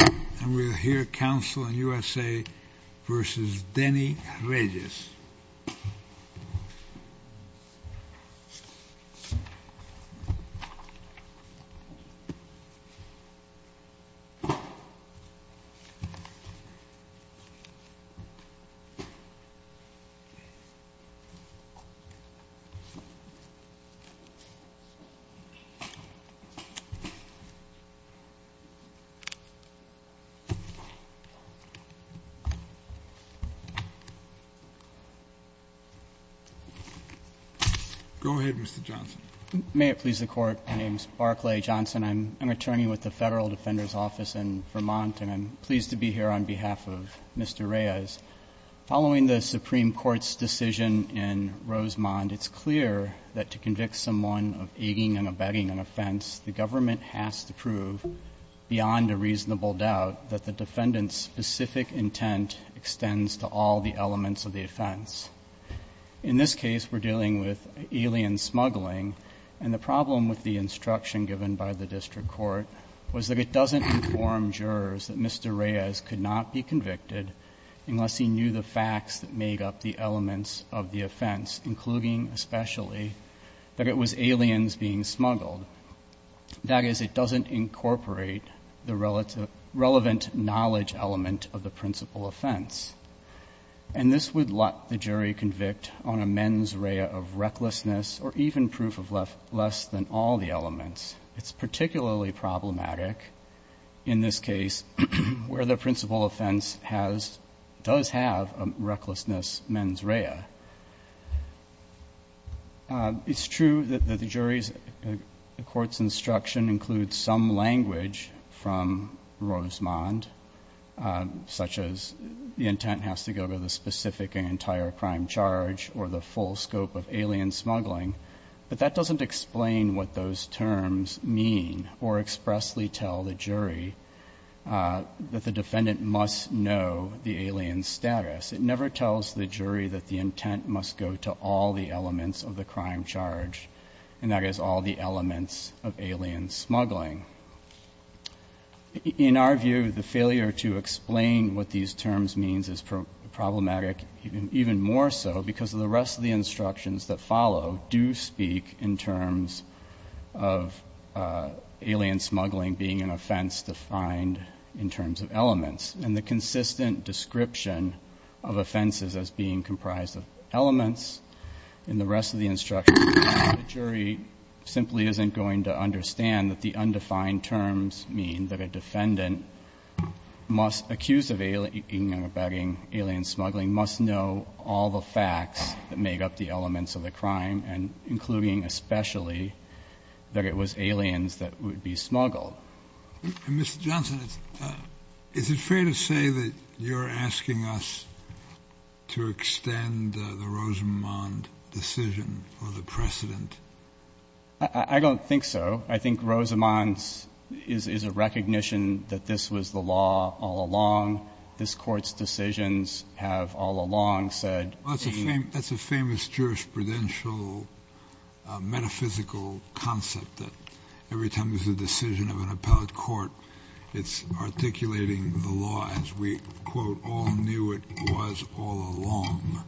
and we'll hear counsel in USA v. Denny Reyes. Go ahead, Mr. Johnson. May it please the Court, my name is Barclay Johnson. I'm an attorney with the Federal Defender's Office in Vermont and I'm pleased to be here on behalf of Mr. Reyes. Following the Supreme Court's decision in Rosemont, it's clear that to convict someone of aiding and abetting an offense, the government has to prove beyond a reasonable doubt that the defendant's specific intent extends to all the elements of the offense. In this case, we're dealing with alien smuggling and the problem with the instruction given by the district court was that it doesn't inform jurors that Mr. Reyes could not be convicted unless he knew the facts that made up the elements of the offense, including especially that it was aliens being smuggled. That is, it doesn't incorporate the relevant knowledge element of the principal offense. And this would let the jury convict on a mens rea of recklessness or even proof of less than all the elements. It's particularly problematic in this case where the principal offense has, does have a recklessness mens rea. It's true that the jury's, the court's instruction includes some language from Rosemont, such as the intent has to go to the specific and entire crime charge or the full scope of alien smuggling, but that doesn't explain what those terms mean or expressly tell the jury that the defendant must know the alien status. It never tells the jury that the intent must go to all the elements of the crime charge, and that is all the elements of alien smuggling. In our view, the failure to explain what these terms means is problematic even more so because of the rest of the instructions that follow do speak in terms of alien smuggling being an offense defined in terms of elements. And the consistent description of offenses as being comprised of elements in the rest of the instructions, the jury simply isn't going to understand that the undefined terms mean that a defendant must, accused of alien smuggling, must know all the facts that make up the elements of the crime, and including especially that it was aliens that would be smuggled. Mr. Johnson, is it fair to say that you're asking us to extend the Rosemont decision for the precedent? I don't think so. I think Rosemont's is a recognition that this was the law all along. This Court's decisions have all along said. That's a famous jurisprudential metaphysical concept that every time there's a decision of an appellate court, it's articulating the law as we, quote, all knew it was all along.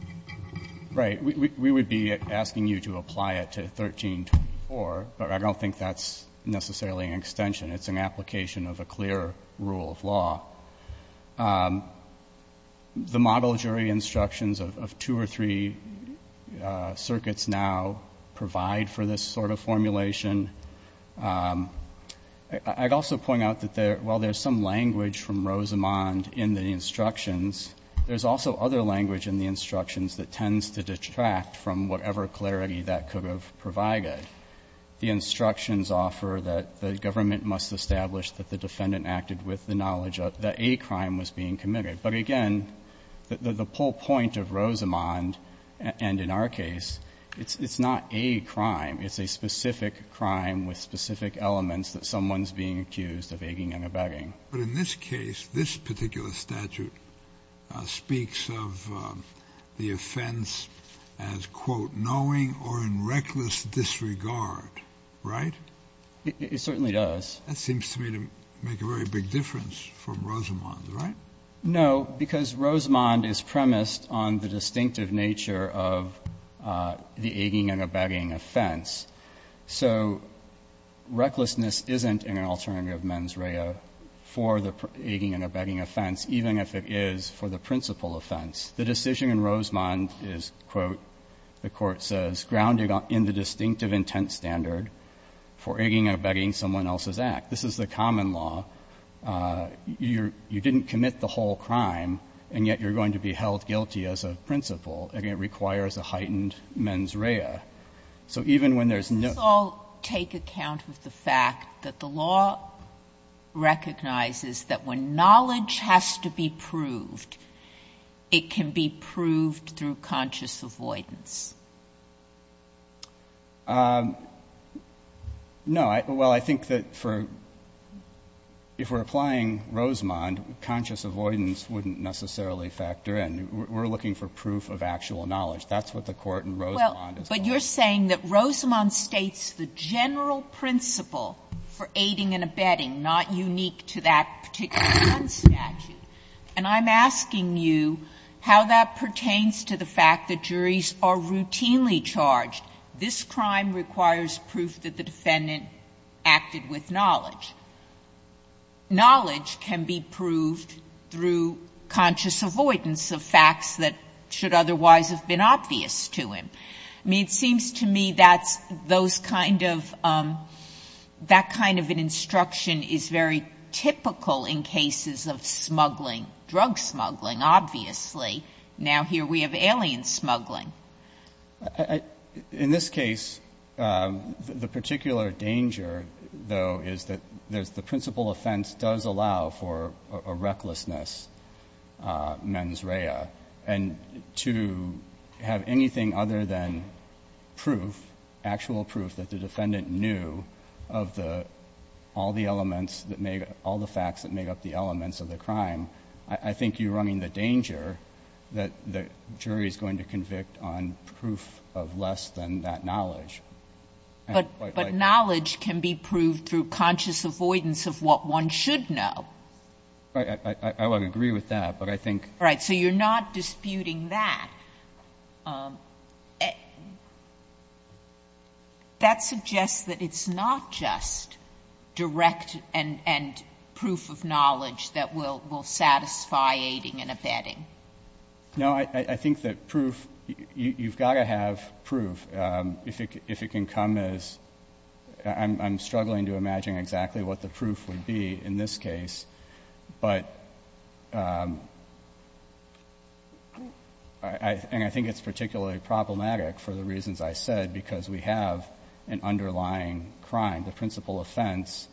Right. We would be asking you to apply it to 1324, but I don't think that's necessarily an extension. It's an application of a clear rule of law. The model jury instructions of two or three circuits now provide for this sort of formulation. I'd also point out that while there's some language from Rosemont in the instructions, there's also other language in the instructions that tends to detract from whatever clarity that could have provided. The instructions offer that the government must establish that the defendant acted with the knowledge that a crime was being committed. But again, the whole point of Rosemont, and in our case, it's not a crime. It's a specific crime with specific elements that someone's being accused of aging and abetting. But in this case, this particular statute speaks of the offense as, quote, knowing or in reckless disregard, right? It certainly does. That seems to me to make a very big difference from Rosemont, right? No, because Rosemont is premised on the distinctive nature of the aging and abetting offense. So recklessness isn't an alternative mens rea for the aging and abetting offense, even if it is for the principal offense. The decision in Rosemont is, quote, the Court says, grounding in the distinctive intent standard for aging and abetting someone else's act. This is the common law. You didn't commit the whole crime, and yet you're going to be held guilty as a principal, and it requires a heightened mens rea. So even when there's no ---- Sotomayor, let's all take account of the fact that the law recognizes that when knowledge has to be proved, it can be proved through conscious avoidance. No. Well, I think that for ---- if we're applying Rosemont, conscious avoidance wouldn't necessarily factor in. We're looking for proof of actual knowledge. That's what the Court in Rosemont is calling for. Well, but you're saying that Rosemont states the general principle for aging and abetting, not unique to that particular statute. And I'm asking you how that pertains to the fact that juries are routinely charged. This crime requires proof that the defendant acted with knowledge. Knowledge can be proved through conscious avoidance of facts that should otherwise have been obvious to him. I mean, it seems to me that those kind of ---- that kind of an instruction is very typical in cases of smuggling, drug smuggling, obviously. Now here we have alien smuggling. In this case, the particular danger, though, is that there's the principal offense does allow for a recklessness mens rea. And to have anything other than proof, actual proof that the defendant knew of the ---- all the elements that make up ---- all the facts that make up the elements of the crime, I think you're running the danger that the jury is going to convict on proof of less than that knowledge. But knowledge can be proved through conscious avoidance of what one should know. I would agree with that, but I think ---- Sotomayor, so you're not disputing that. That suggests that it's not just direct and proof of knowledge that will satisfy aiding and abetting. No. I think that proof ---- you've got to have proof. If it can come as ---- I'm struggling to imagine exactly what the proof would be in this case, but ---- and I think it's particularly problematic for the reasons I said because we have an underlying crime. The principal offense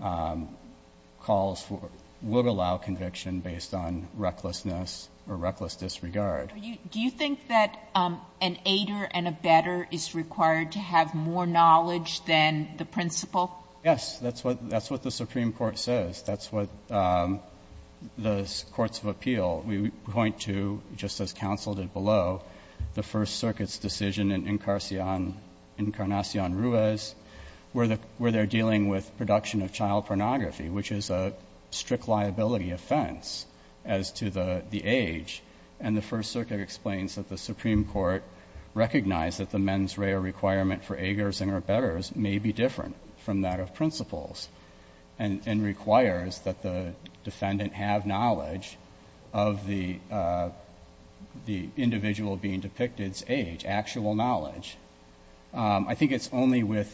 calls for ---- would allow conviction based on recklessness or reckless disregard. Do you think that an aider and abetter is required to have more knowledge than the principal? Yes. That's what the Supreme Court says. That's what the courts of appeal point to, just as counsel did below, the First Circuit's decision in Incarnacion Ruiz, where they're dealing with production of child pornography, which is a strict liability offense as to the age. And the First Circuit explains that the Supreme Court recognized that the mens is a matter of principles and requires that the defendant have knowledge of the individual being depicted's age, actual knowledge. I think it's only with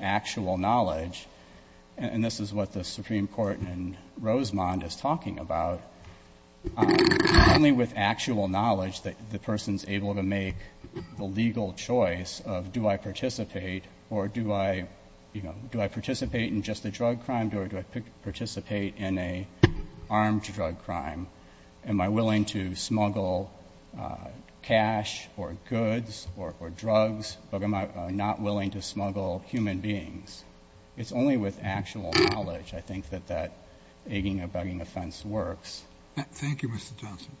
actual knowledge, and this is what the Supreme Court in Rosemont is talking about, only with actual knowledge that the person's able to make the legal choice of do I participate or do I, you know, do I participate in just a drug crime or do I participate in an armed drug crime? Am I willing to smuggle cash or goods or drugs, but am I not willing to smuggle human beings? It's only with actual knowledge, I think, that that aging and bugging offense works. Thank you, Mr. Johnson.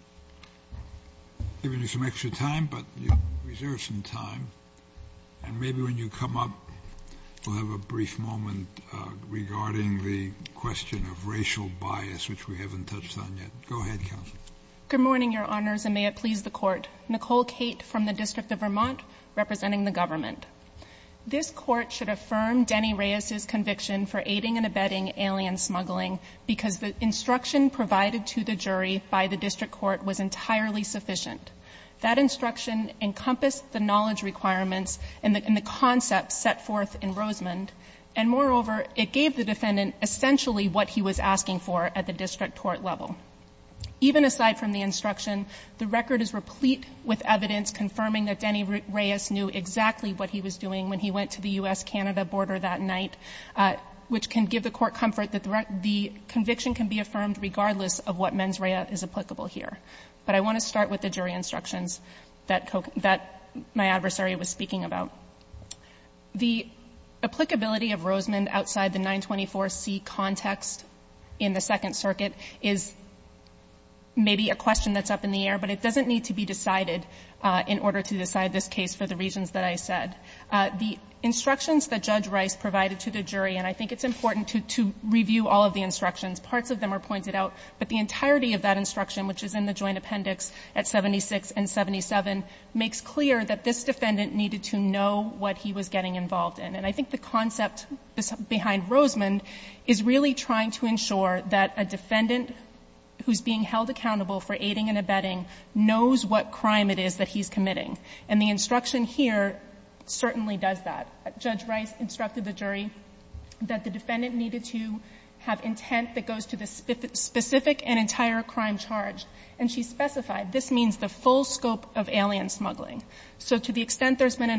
I've given you some extra time, but you've reserved some time. And maybe when you come up, we'll have a brief moment regarding the question of racial bias, which we haven't touched on yet. Go ahead, counsel. Good morning, Your Honors, and may it please the Court. Nicole Cate from the District of Vermont, representing the government. This Court should affirm Denny Reyes's conviction for aiding and abetting alien smuggling because the instruction provided to the jury by the district court was entirely sufficient. That instruction encompassed the knowledge requirements and the concepts set forth in Rosemont. And moreover, it gave the defendant essentially what he was asking for at the district court level. Even aside from the instruction, the record is replete with evidence confirming that Denny Reyes knew exactly what he was doing when he went to the U.S.-Canada border that night, which can give the Court comfort that the conviction can be affirmed regardless of what mens rea is applicable here. But I want to start with the jury instructions that my adversary was speaking about. The applicability of Rosemont outside the 924C context in the Second Circuit is maybe a question that's up in the air, but it doesn't need to be decided in order to decide this case for the reasons that I said. The instructions that Judge Reyes provided to the jury, and I think it's important to review all of the instructions, parts of them are pointed out, but the entirety of that instruction, which is in the joint appendix at 76 and 77, makes clear that this defendant needed to know what he was getting involved in. And I think the concept behind Rosemont is really trying to ensure that a defendant who's being held accountable for aiding and abetting knows what crime it is that he's committing. And the instruction here certainly does that. Judge Reyes instructed the jury that the defendant needed to have intent that goes to the specific and entire crime charge. And she specified, this means the full scope of alien smuggling. So to the extent there's been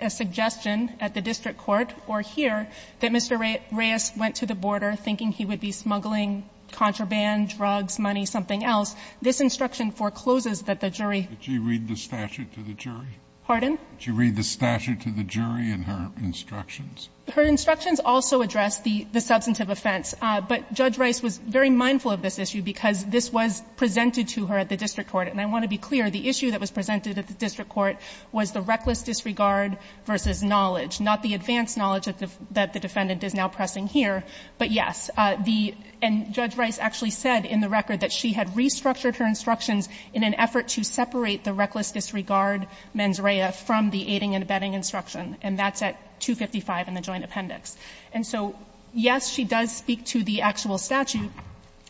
a suggestion at the district court or here that Mr. Reyes went to the border thinking he would be smuggling contraband, drugs, money, something else, this instruction forecloses that the jury. Did she read the statute to the jury? Pardon? Did she read the statute to the jury in her instructions? Her instructions also address the substantive offense. But Judge Reyes was very mindful of this issue because this was presented to her at the district court. And I want to be clear, the issue that was presented at the district court was the reckless disregard versus knowledge, not the advanced knowledge that the defendant is now pressing here, but yes. And Judge Reyes actually said in the record that she had restructured her instructions in an effort to separate the reckless disregard mens rea from the aiding and abetting instruction, and that's at 255 in the joint appendix. And so, yes, she does speak to the actual statute,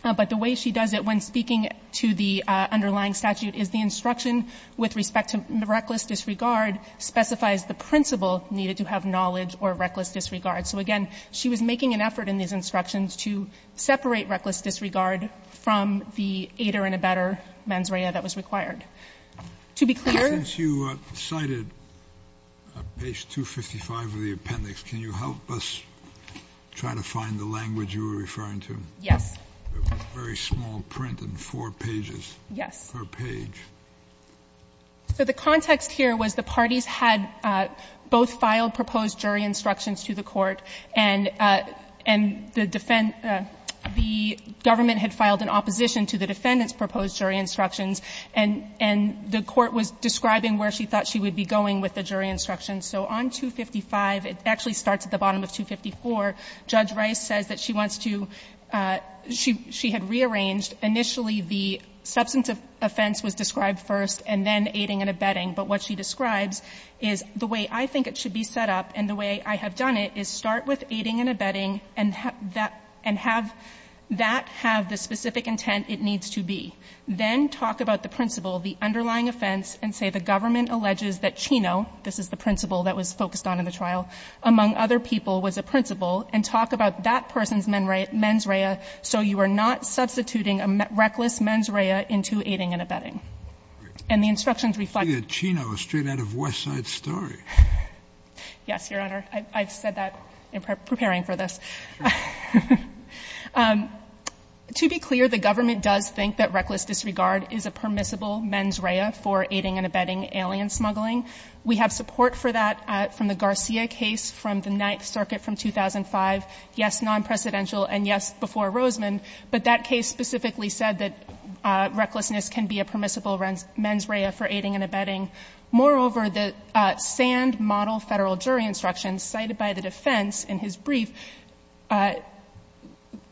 but the way she does it when speaking to the underlying statute is the instruction with respect to reckless disregard specifies the principle needed to have knowledge or reckless disregard. So again, she was making an effort in these instructions to separate reckless disregard from the aiding and abetting mens rea that was required. To be clear. Since you cited page 255 of the appendix, can you help us try to find the language you were referring to? Yes. Very small print in four pages. Yes. Per page. So the context here was the parties had both filed proposed jury instructions to the court, and the government had filed an opposition to the defendant's proposed jury instructions, and the court was describing where she thought she would be going with the jury instructions. So on 255, it actually starts at the bottom of 254. Judge Reyes says that she wants to – she had rearranged. Initially, the substance offense was described first, and then aiding and abetting. But what she describes is the way I think it should be set up and the way I have done it is start with aiding and abetting and have that have the specific intent it needs to be. Then talk about the principle, the underlying offense, and say the government alleges that Chino, this is the principle that was focused on in the trial, among other people was a principle, and talk about that person's mens rea so you are not substituting a reckless mens rea into aiding and abetting. And the instructions reflect that. Scalia, Chino is straight out of West Side Story. Yes, Your Honor. I've said that in preparing for this. Sure. To be clear, the government does think that reckless disregard is a permissible mens rea for aiding and abetting alien smuggling. We have support for that from the Garcia case from the Ninth Circuit from 2005. Yes, non-precedential, and yes, before Roseman. But that case specifically said that recklessness can be a permissible mens rea for aiding and abetting. Moreover, the sand model federal jury instructions cited by the defense in his brief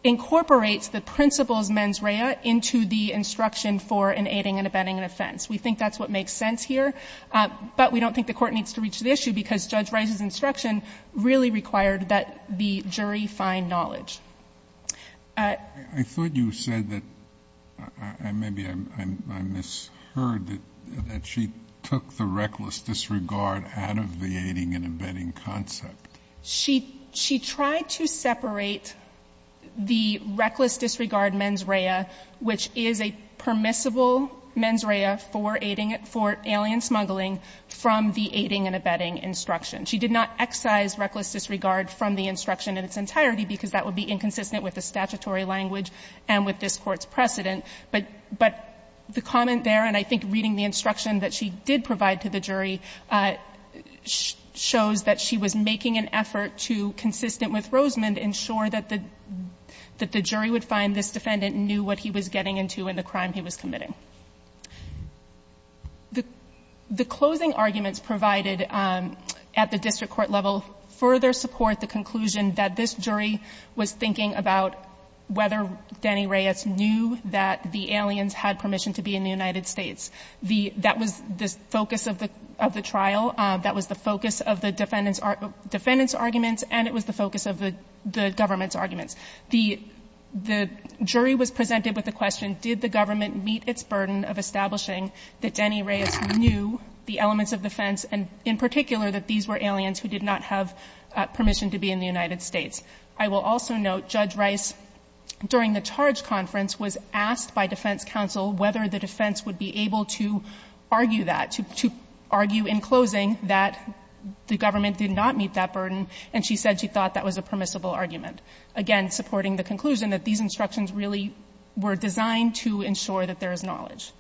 incorporates the principle's mens rea into the instruction for an aiding and abetting offense. We think that's what makes sense here. But we don't think the Court needs to reach the issue because Judge Rice's instruction really required that the jury find knowledge. I thought you said that, maybe I misheard, that she took the reckless disregard out of the aiding and abetting concept. She tried to separate the reckless disregard mens rea, which is a permissible mens rea for aiding, for alien smuggling, from the aiding and abetting instruction. She did not excise reckless disregard from the instruction in its entirety because that would be inconsistent with the statutory language and with this Court's precedent. But the comment there, and I think reading the instruction that she did provide to the jury, shows that she was making an effort to, consistent with Roseman, ensure that the jury would find this defendant knew what he was getting into in the crime he was committing. The closing arguments provided at the district court level further support the conclusion that this jury was thinking about whether Danny Reyes knew that the aliens had permission to be in the United States. That was the focus of the trial. That was the focus of the defendant's arguments, and it was the focus of the government's arguments. The jury was presented with the question, did the government meet its burden of establishing that Danny Reyes knew the elements of defense, and in particular that these were aliens who did not have permission to be in the United States. I will also note Judge Reyes, during the charge conference, was asked by defense counsel whether the defense would be able to argue that, to argue in closing that the government did not meet that burden, and she said she thought that was a permissible argument, again, supporting the conclusion that these instructions really were designed to ensure that there is knowledge.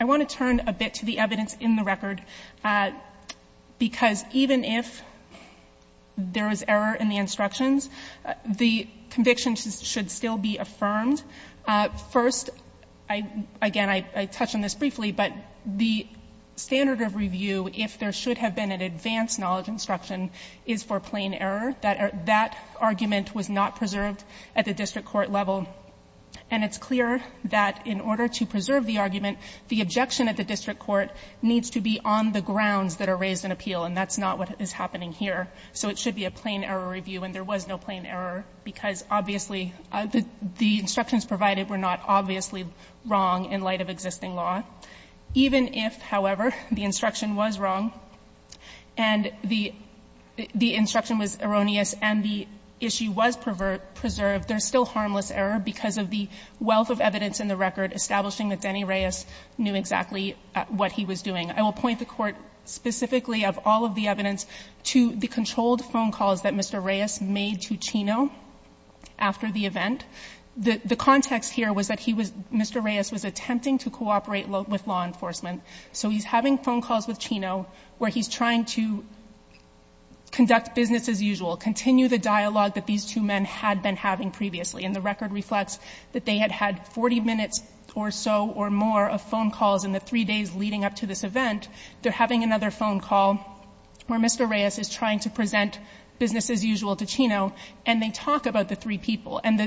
I want to turn a bit to the evidence in the record, because even if there is error in the instructions, the conviction should still be affirmed. First, again, I touch on this briefly, but the standard of review, if there should have been an advanced knowledge instruction, is for plain error. That argument was not preserved at the district court level, and it's clear that in order to preserve the argument, the objection at the district court needs to be on the grounds that are raised in appeal, and that's not what is happening here. So it should be a plain error review, and there was no plain error, because obviously the instructions provided were not obviously wrong in light of existing law. Even if, however, the instruction was wrong and the instruction was erroneous and the issue was preserved, there's still harmless error because of the wealth of evidence in the record establishing that Denny Reyes knew exactly what he was doing. I will point the Court specifically of all of the evidence to the controlled phone calls that Mr. Reyes made to Chino after the event. The context here was that he was Mr. Reyes was attempting to cooperate with law enforcement. So he's having phone calls with Chino where he's trying to conduct business as usual, continue the dialogue that these two men had been having previously, and the record reflects that they had had 40 minutes or so or more of phone calls in the three days leading up to this event. They're having another phone call where Mr. Reyes is trying to present business as usual to Chino, and they talk about the three people. And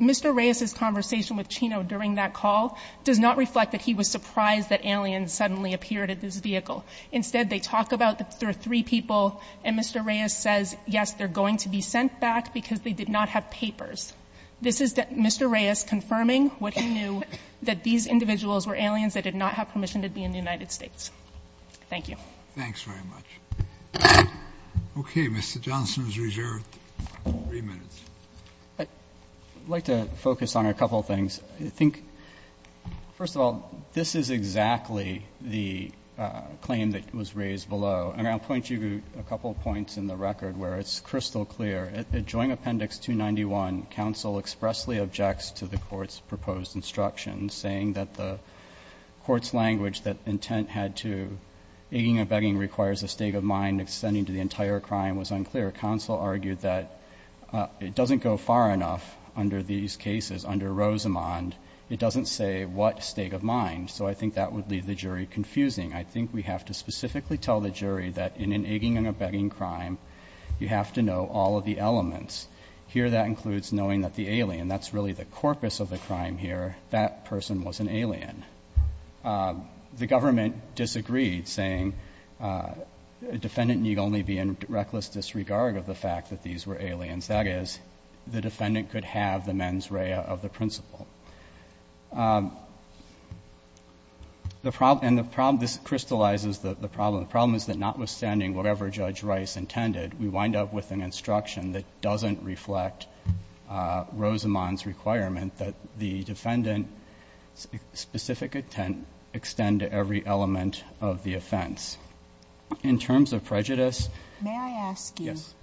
Mr. Reyes's conversation with Chino during that call does not reflect that he was surprised that aliens suddenly appeared at this vehicle. Instead, they talk about the three people, and Mr. Reyes says, yes, they're going to be sent back because they did not have papers. This is Mr. Reyes confirming what he knew, that these individuals were aliens that did not have permission to be in the United States. Thank you. Thank you very much. Okay. Mr. Johnson is reserved three minutes. I'd like to focus on a couple of things. I think, first of all, this is exactly the claim that was raised below. And I'll point you to a couple of points in the record where it's crystal clear. At Joint Appendix 291, counsel expressly objects to the Court's proposed instructions saying that the Court's language that intent had to, egging and begging requires a state of mind extending to the entire crime was unclear. Counsel argued that it doesn't go far enough under these cases. Under Rosamond, it doesn't say what state of mind. So I think that would leave the jury confusing. I think we have to specifically tell the jury that in an egging and a begging crime, you have to know all of the elements. Here, that includes knowing that the alien, that's really the corpus of the crime here, that person was an alien. The government disagreed, saying a defendant need only be in reckless disregard of the fact that these were aliens. That is, the defendant could have the mens rea of the principle. And the problem, this crystallizes the problem. The problem is that notwithstanding whatever Judge Rice intended, we wind up with an instruction that doesn't reflect Rosamond's requirement that the defendant's specific intent extend to every element of the offense. In terms of prejudice— May I ask you— Yes.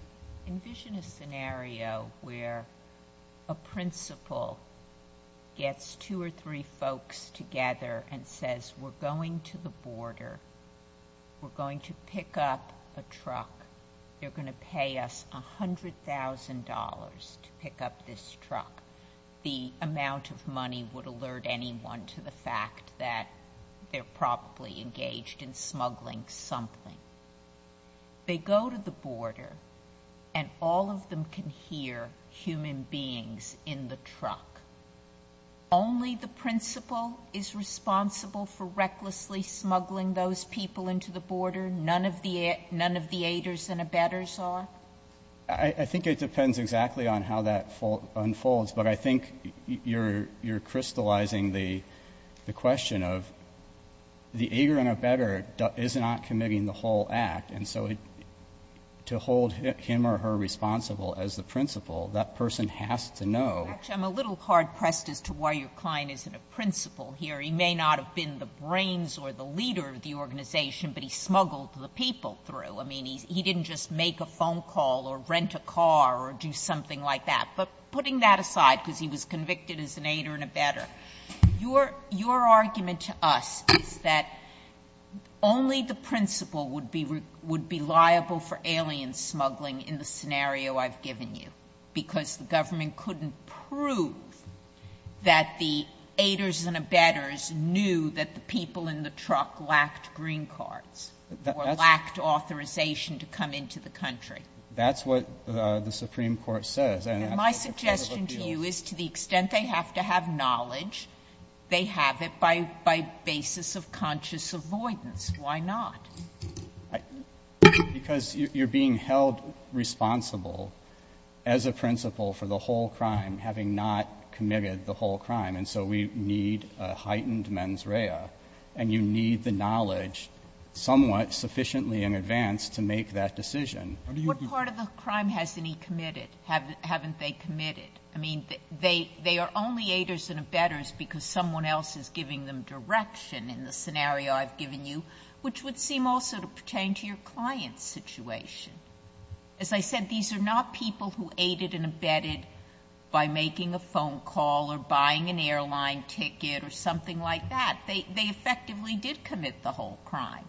Envision a scenario where a principle gets two or three folks together and says, we're going to the border. We're going to pick up a truck. They're going to pay us $100,000 to pick up this truck. The amount of money would alert anyone to the fact that they're probably engaged in smuggling something. They go to the border, and all of them can hear human beings in the truck. Only the principle is responsible for recklessly smuggling those people into the border? None of the aiders and abettors are? I think it depends exactly on how that unfolds. But I think you're crystallizing the question of the aider and abettor is not committing the whole act. And so to hold him or her responsible as the principle, that person has to know. Actually, I'm a little hard-pressed as to why your client isn't a principle here. He may not have been the brains or the leader of the organization, but he smuggled the people through. I mean, he didn't just make a phone call or rent a car or do something like that. But putting that aside, because he was convicted as an aider and abettor, your argument to us is that only the principle would be liable for alien smuggling in the scenario I've given you, because the government couldn't prove that the aiders and abettors knew that the people in the truck lacked green cards or lacked authorization to come into the country. That's what the Supreme Court says. And my suggestion to you is to the extent they have to have knowledge, they have it by basis of conscious avoidance. Why not? Because you're being held responsible as a principle for the whole crime, having not committed the whole crime, and so we need a heightened mens rea, and you need the knowledge somewhat sufficiently in advance to make that decision. How do you do that? What part of the crime hasn't he committed? Haven't they committed? I mean, they are only aiders and abettors because someone else is giving them direction in the scenario I've given you, which would seem also to pertain to your client's situation. As I said, these are not people who aided and abetted by making a phone call or buying an airline ticket or something like that. They effectively did commit the whole crime.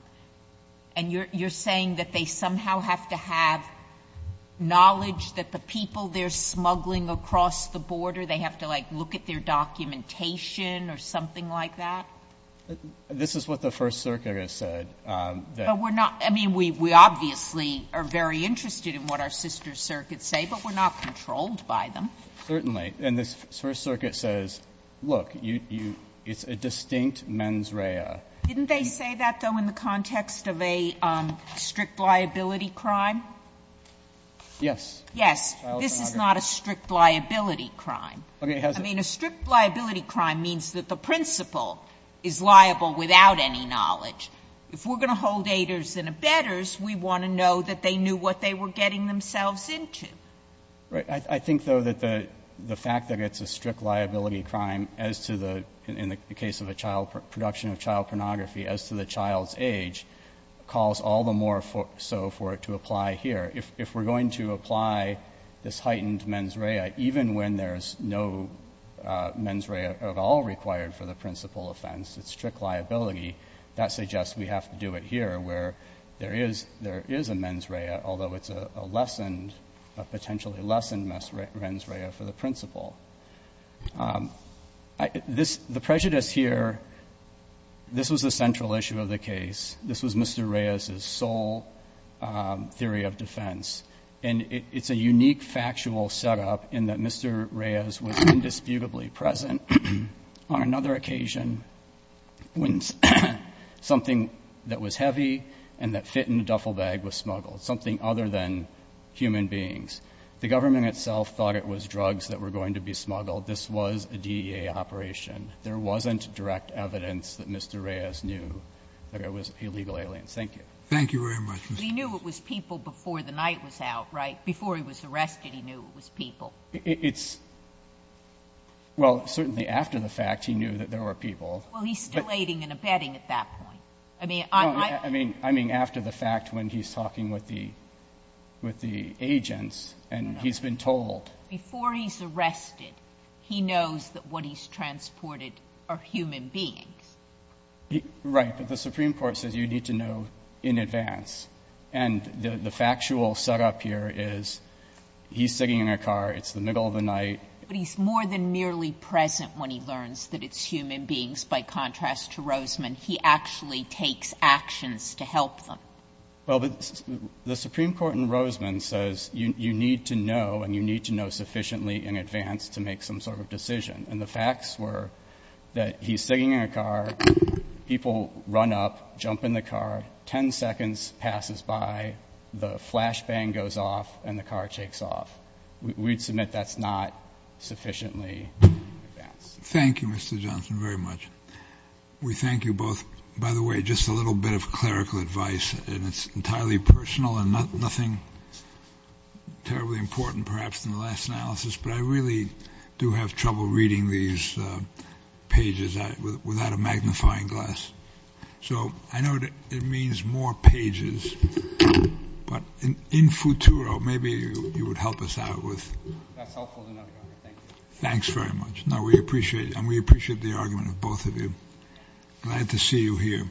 And you're saying that they somehow have to have knowledge that the people they're smuggling across the border, they have to, like, look at their documentation or something like that? This is what the First Circuit has said. But we're not, I mean, we obviously are very interested in what our sister circuits say, but we're not controlled by them. Certainly. And the First Circuit says, look, you, it's a distinct mens rea. Didn't they say that, though, in the context of a strict liability crime? Yes. Yes. This is not a strict liability crime. Okay. I mean, a strict liability crime means that the principal is liable without any knowledge. If we're going to hold aiders and abettors, we want to know that they knew what they were getting themselves into. Right. I think, though, that the fact that it's a strict liability crime as to the, in the case of a child, production of child pornography, as to the child's age calls all the more so for it to apply here. If we're going to apply this heightened mens rea, even when there's no mens rea at all required for the principal offense, it's strict liability, that suggests we have to do it here where there is a mens rea, although it's a lessened, a potentially lessened mens rea for the principal. The prejudice here, this was the central issue of the case. This was Mr. Reyes's sole theory of defense. And it's a unique factual setup in that Mr. Reyes was indisputably present on another occasion when something that was heavy and that fit in a duffel bag was smuggled, something other than human beings. The government itself thought it was drugs that were going to be smuggled. This was a DEA operation. There wasn't direct evidence that Mr. Reyes knew that it was illegal aliens. Thank you. Scalia. Thank you very much, Mr. Chief Justice. Sotomayor. He knew it was people before the night was out, right? Before he was arrested, he knew it was people. It's, well, certainly after the fact, he knew that there were people. Well, he's still aiding and abetting at that point. I mean, on my part. I mean, after the fact when he's talking with the agents and he's been told. But before he's arrested, he knows that what he's transported are human beings. Right. But the Supreme Court says you need to know in advance. And the factual setup here is he's sitting in a car. It's the middle of the night. But he's more than merely present when he learns that it's human beings. By contrast to Roseman, he actually takes actions to help them. Well, the Supreme Court in Roseman says you need to know, and you need to know sufficiently in advance to make some sort of decision. And the facts were that he's sitting in a car, people run up, jump in the car, 10 seconds passes by, the flashbang goes off, and the car takes off. We'd submit that's not sufficiently in advance. Thank you, Mr. Johnson, very much. We thank you both. By the way, just a little bit of clerical advice, and it's entirely personal and nothing terribly important perhaps in the last analysis, but I really do have trouble reading these pages without a magnifying glass. So I know it means more pages, but in futuro, maybe you would help us out with. That's helpful enough. Thank you. Thanks very much. No, we appreciate it, and we appreciate the argument of both of you. Glad to see you here.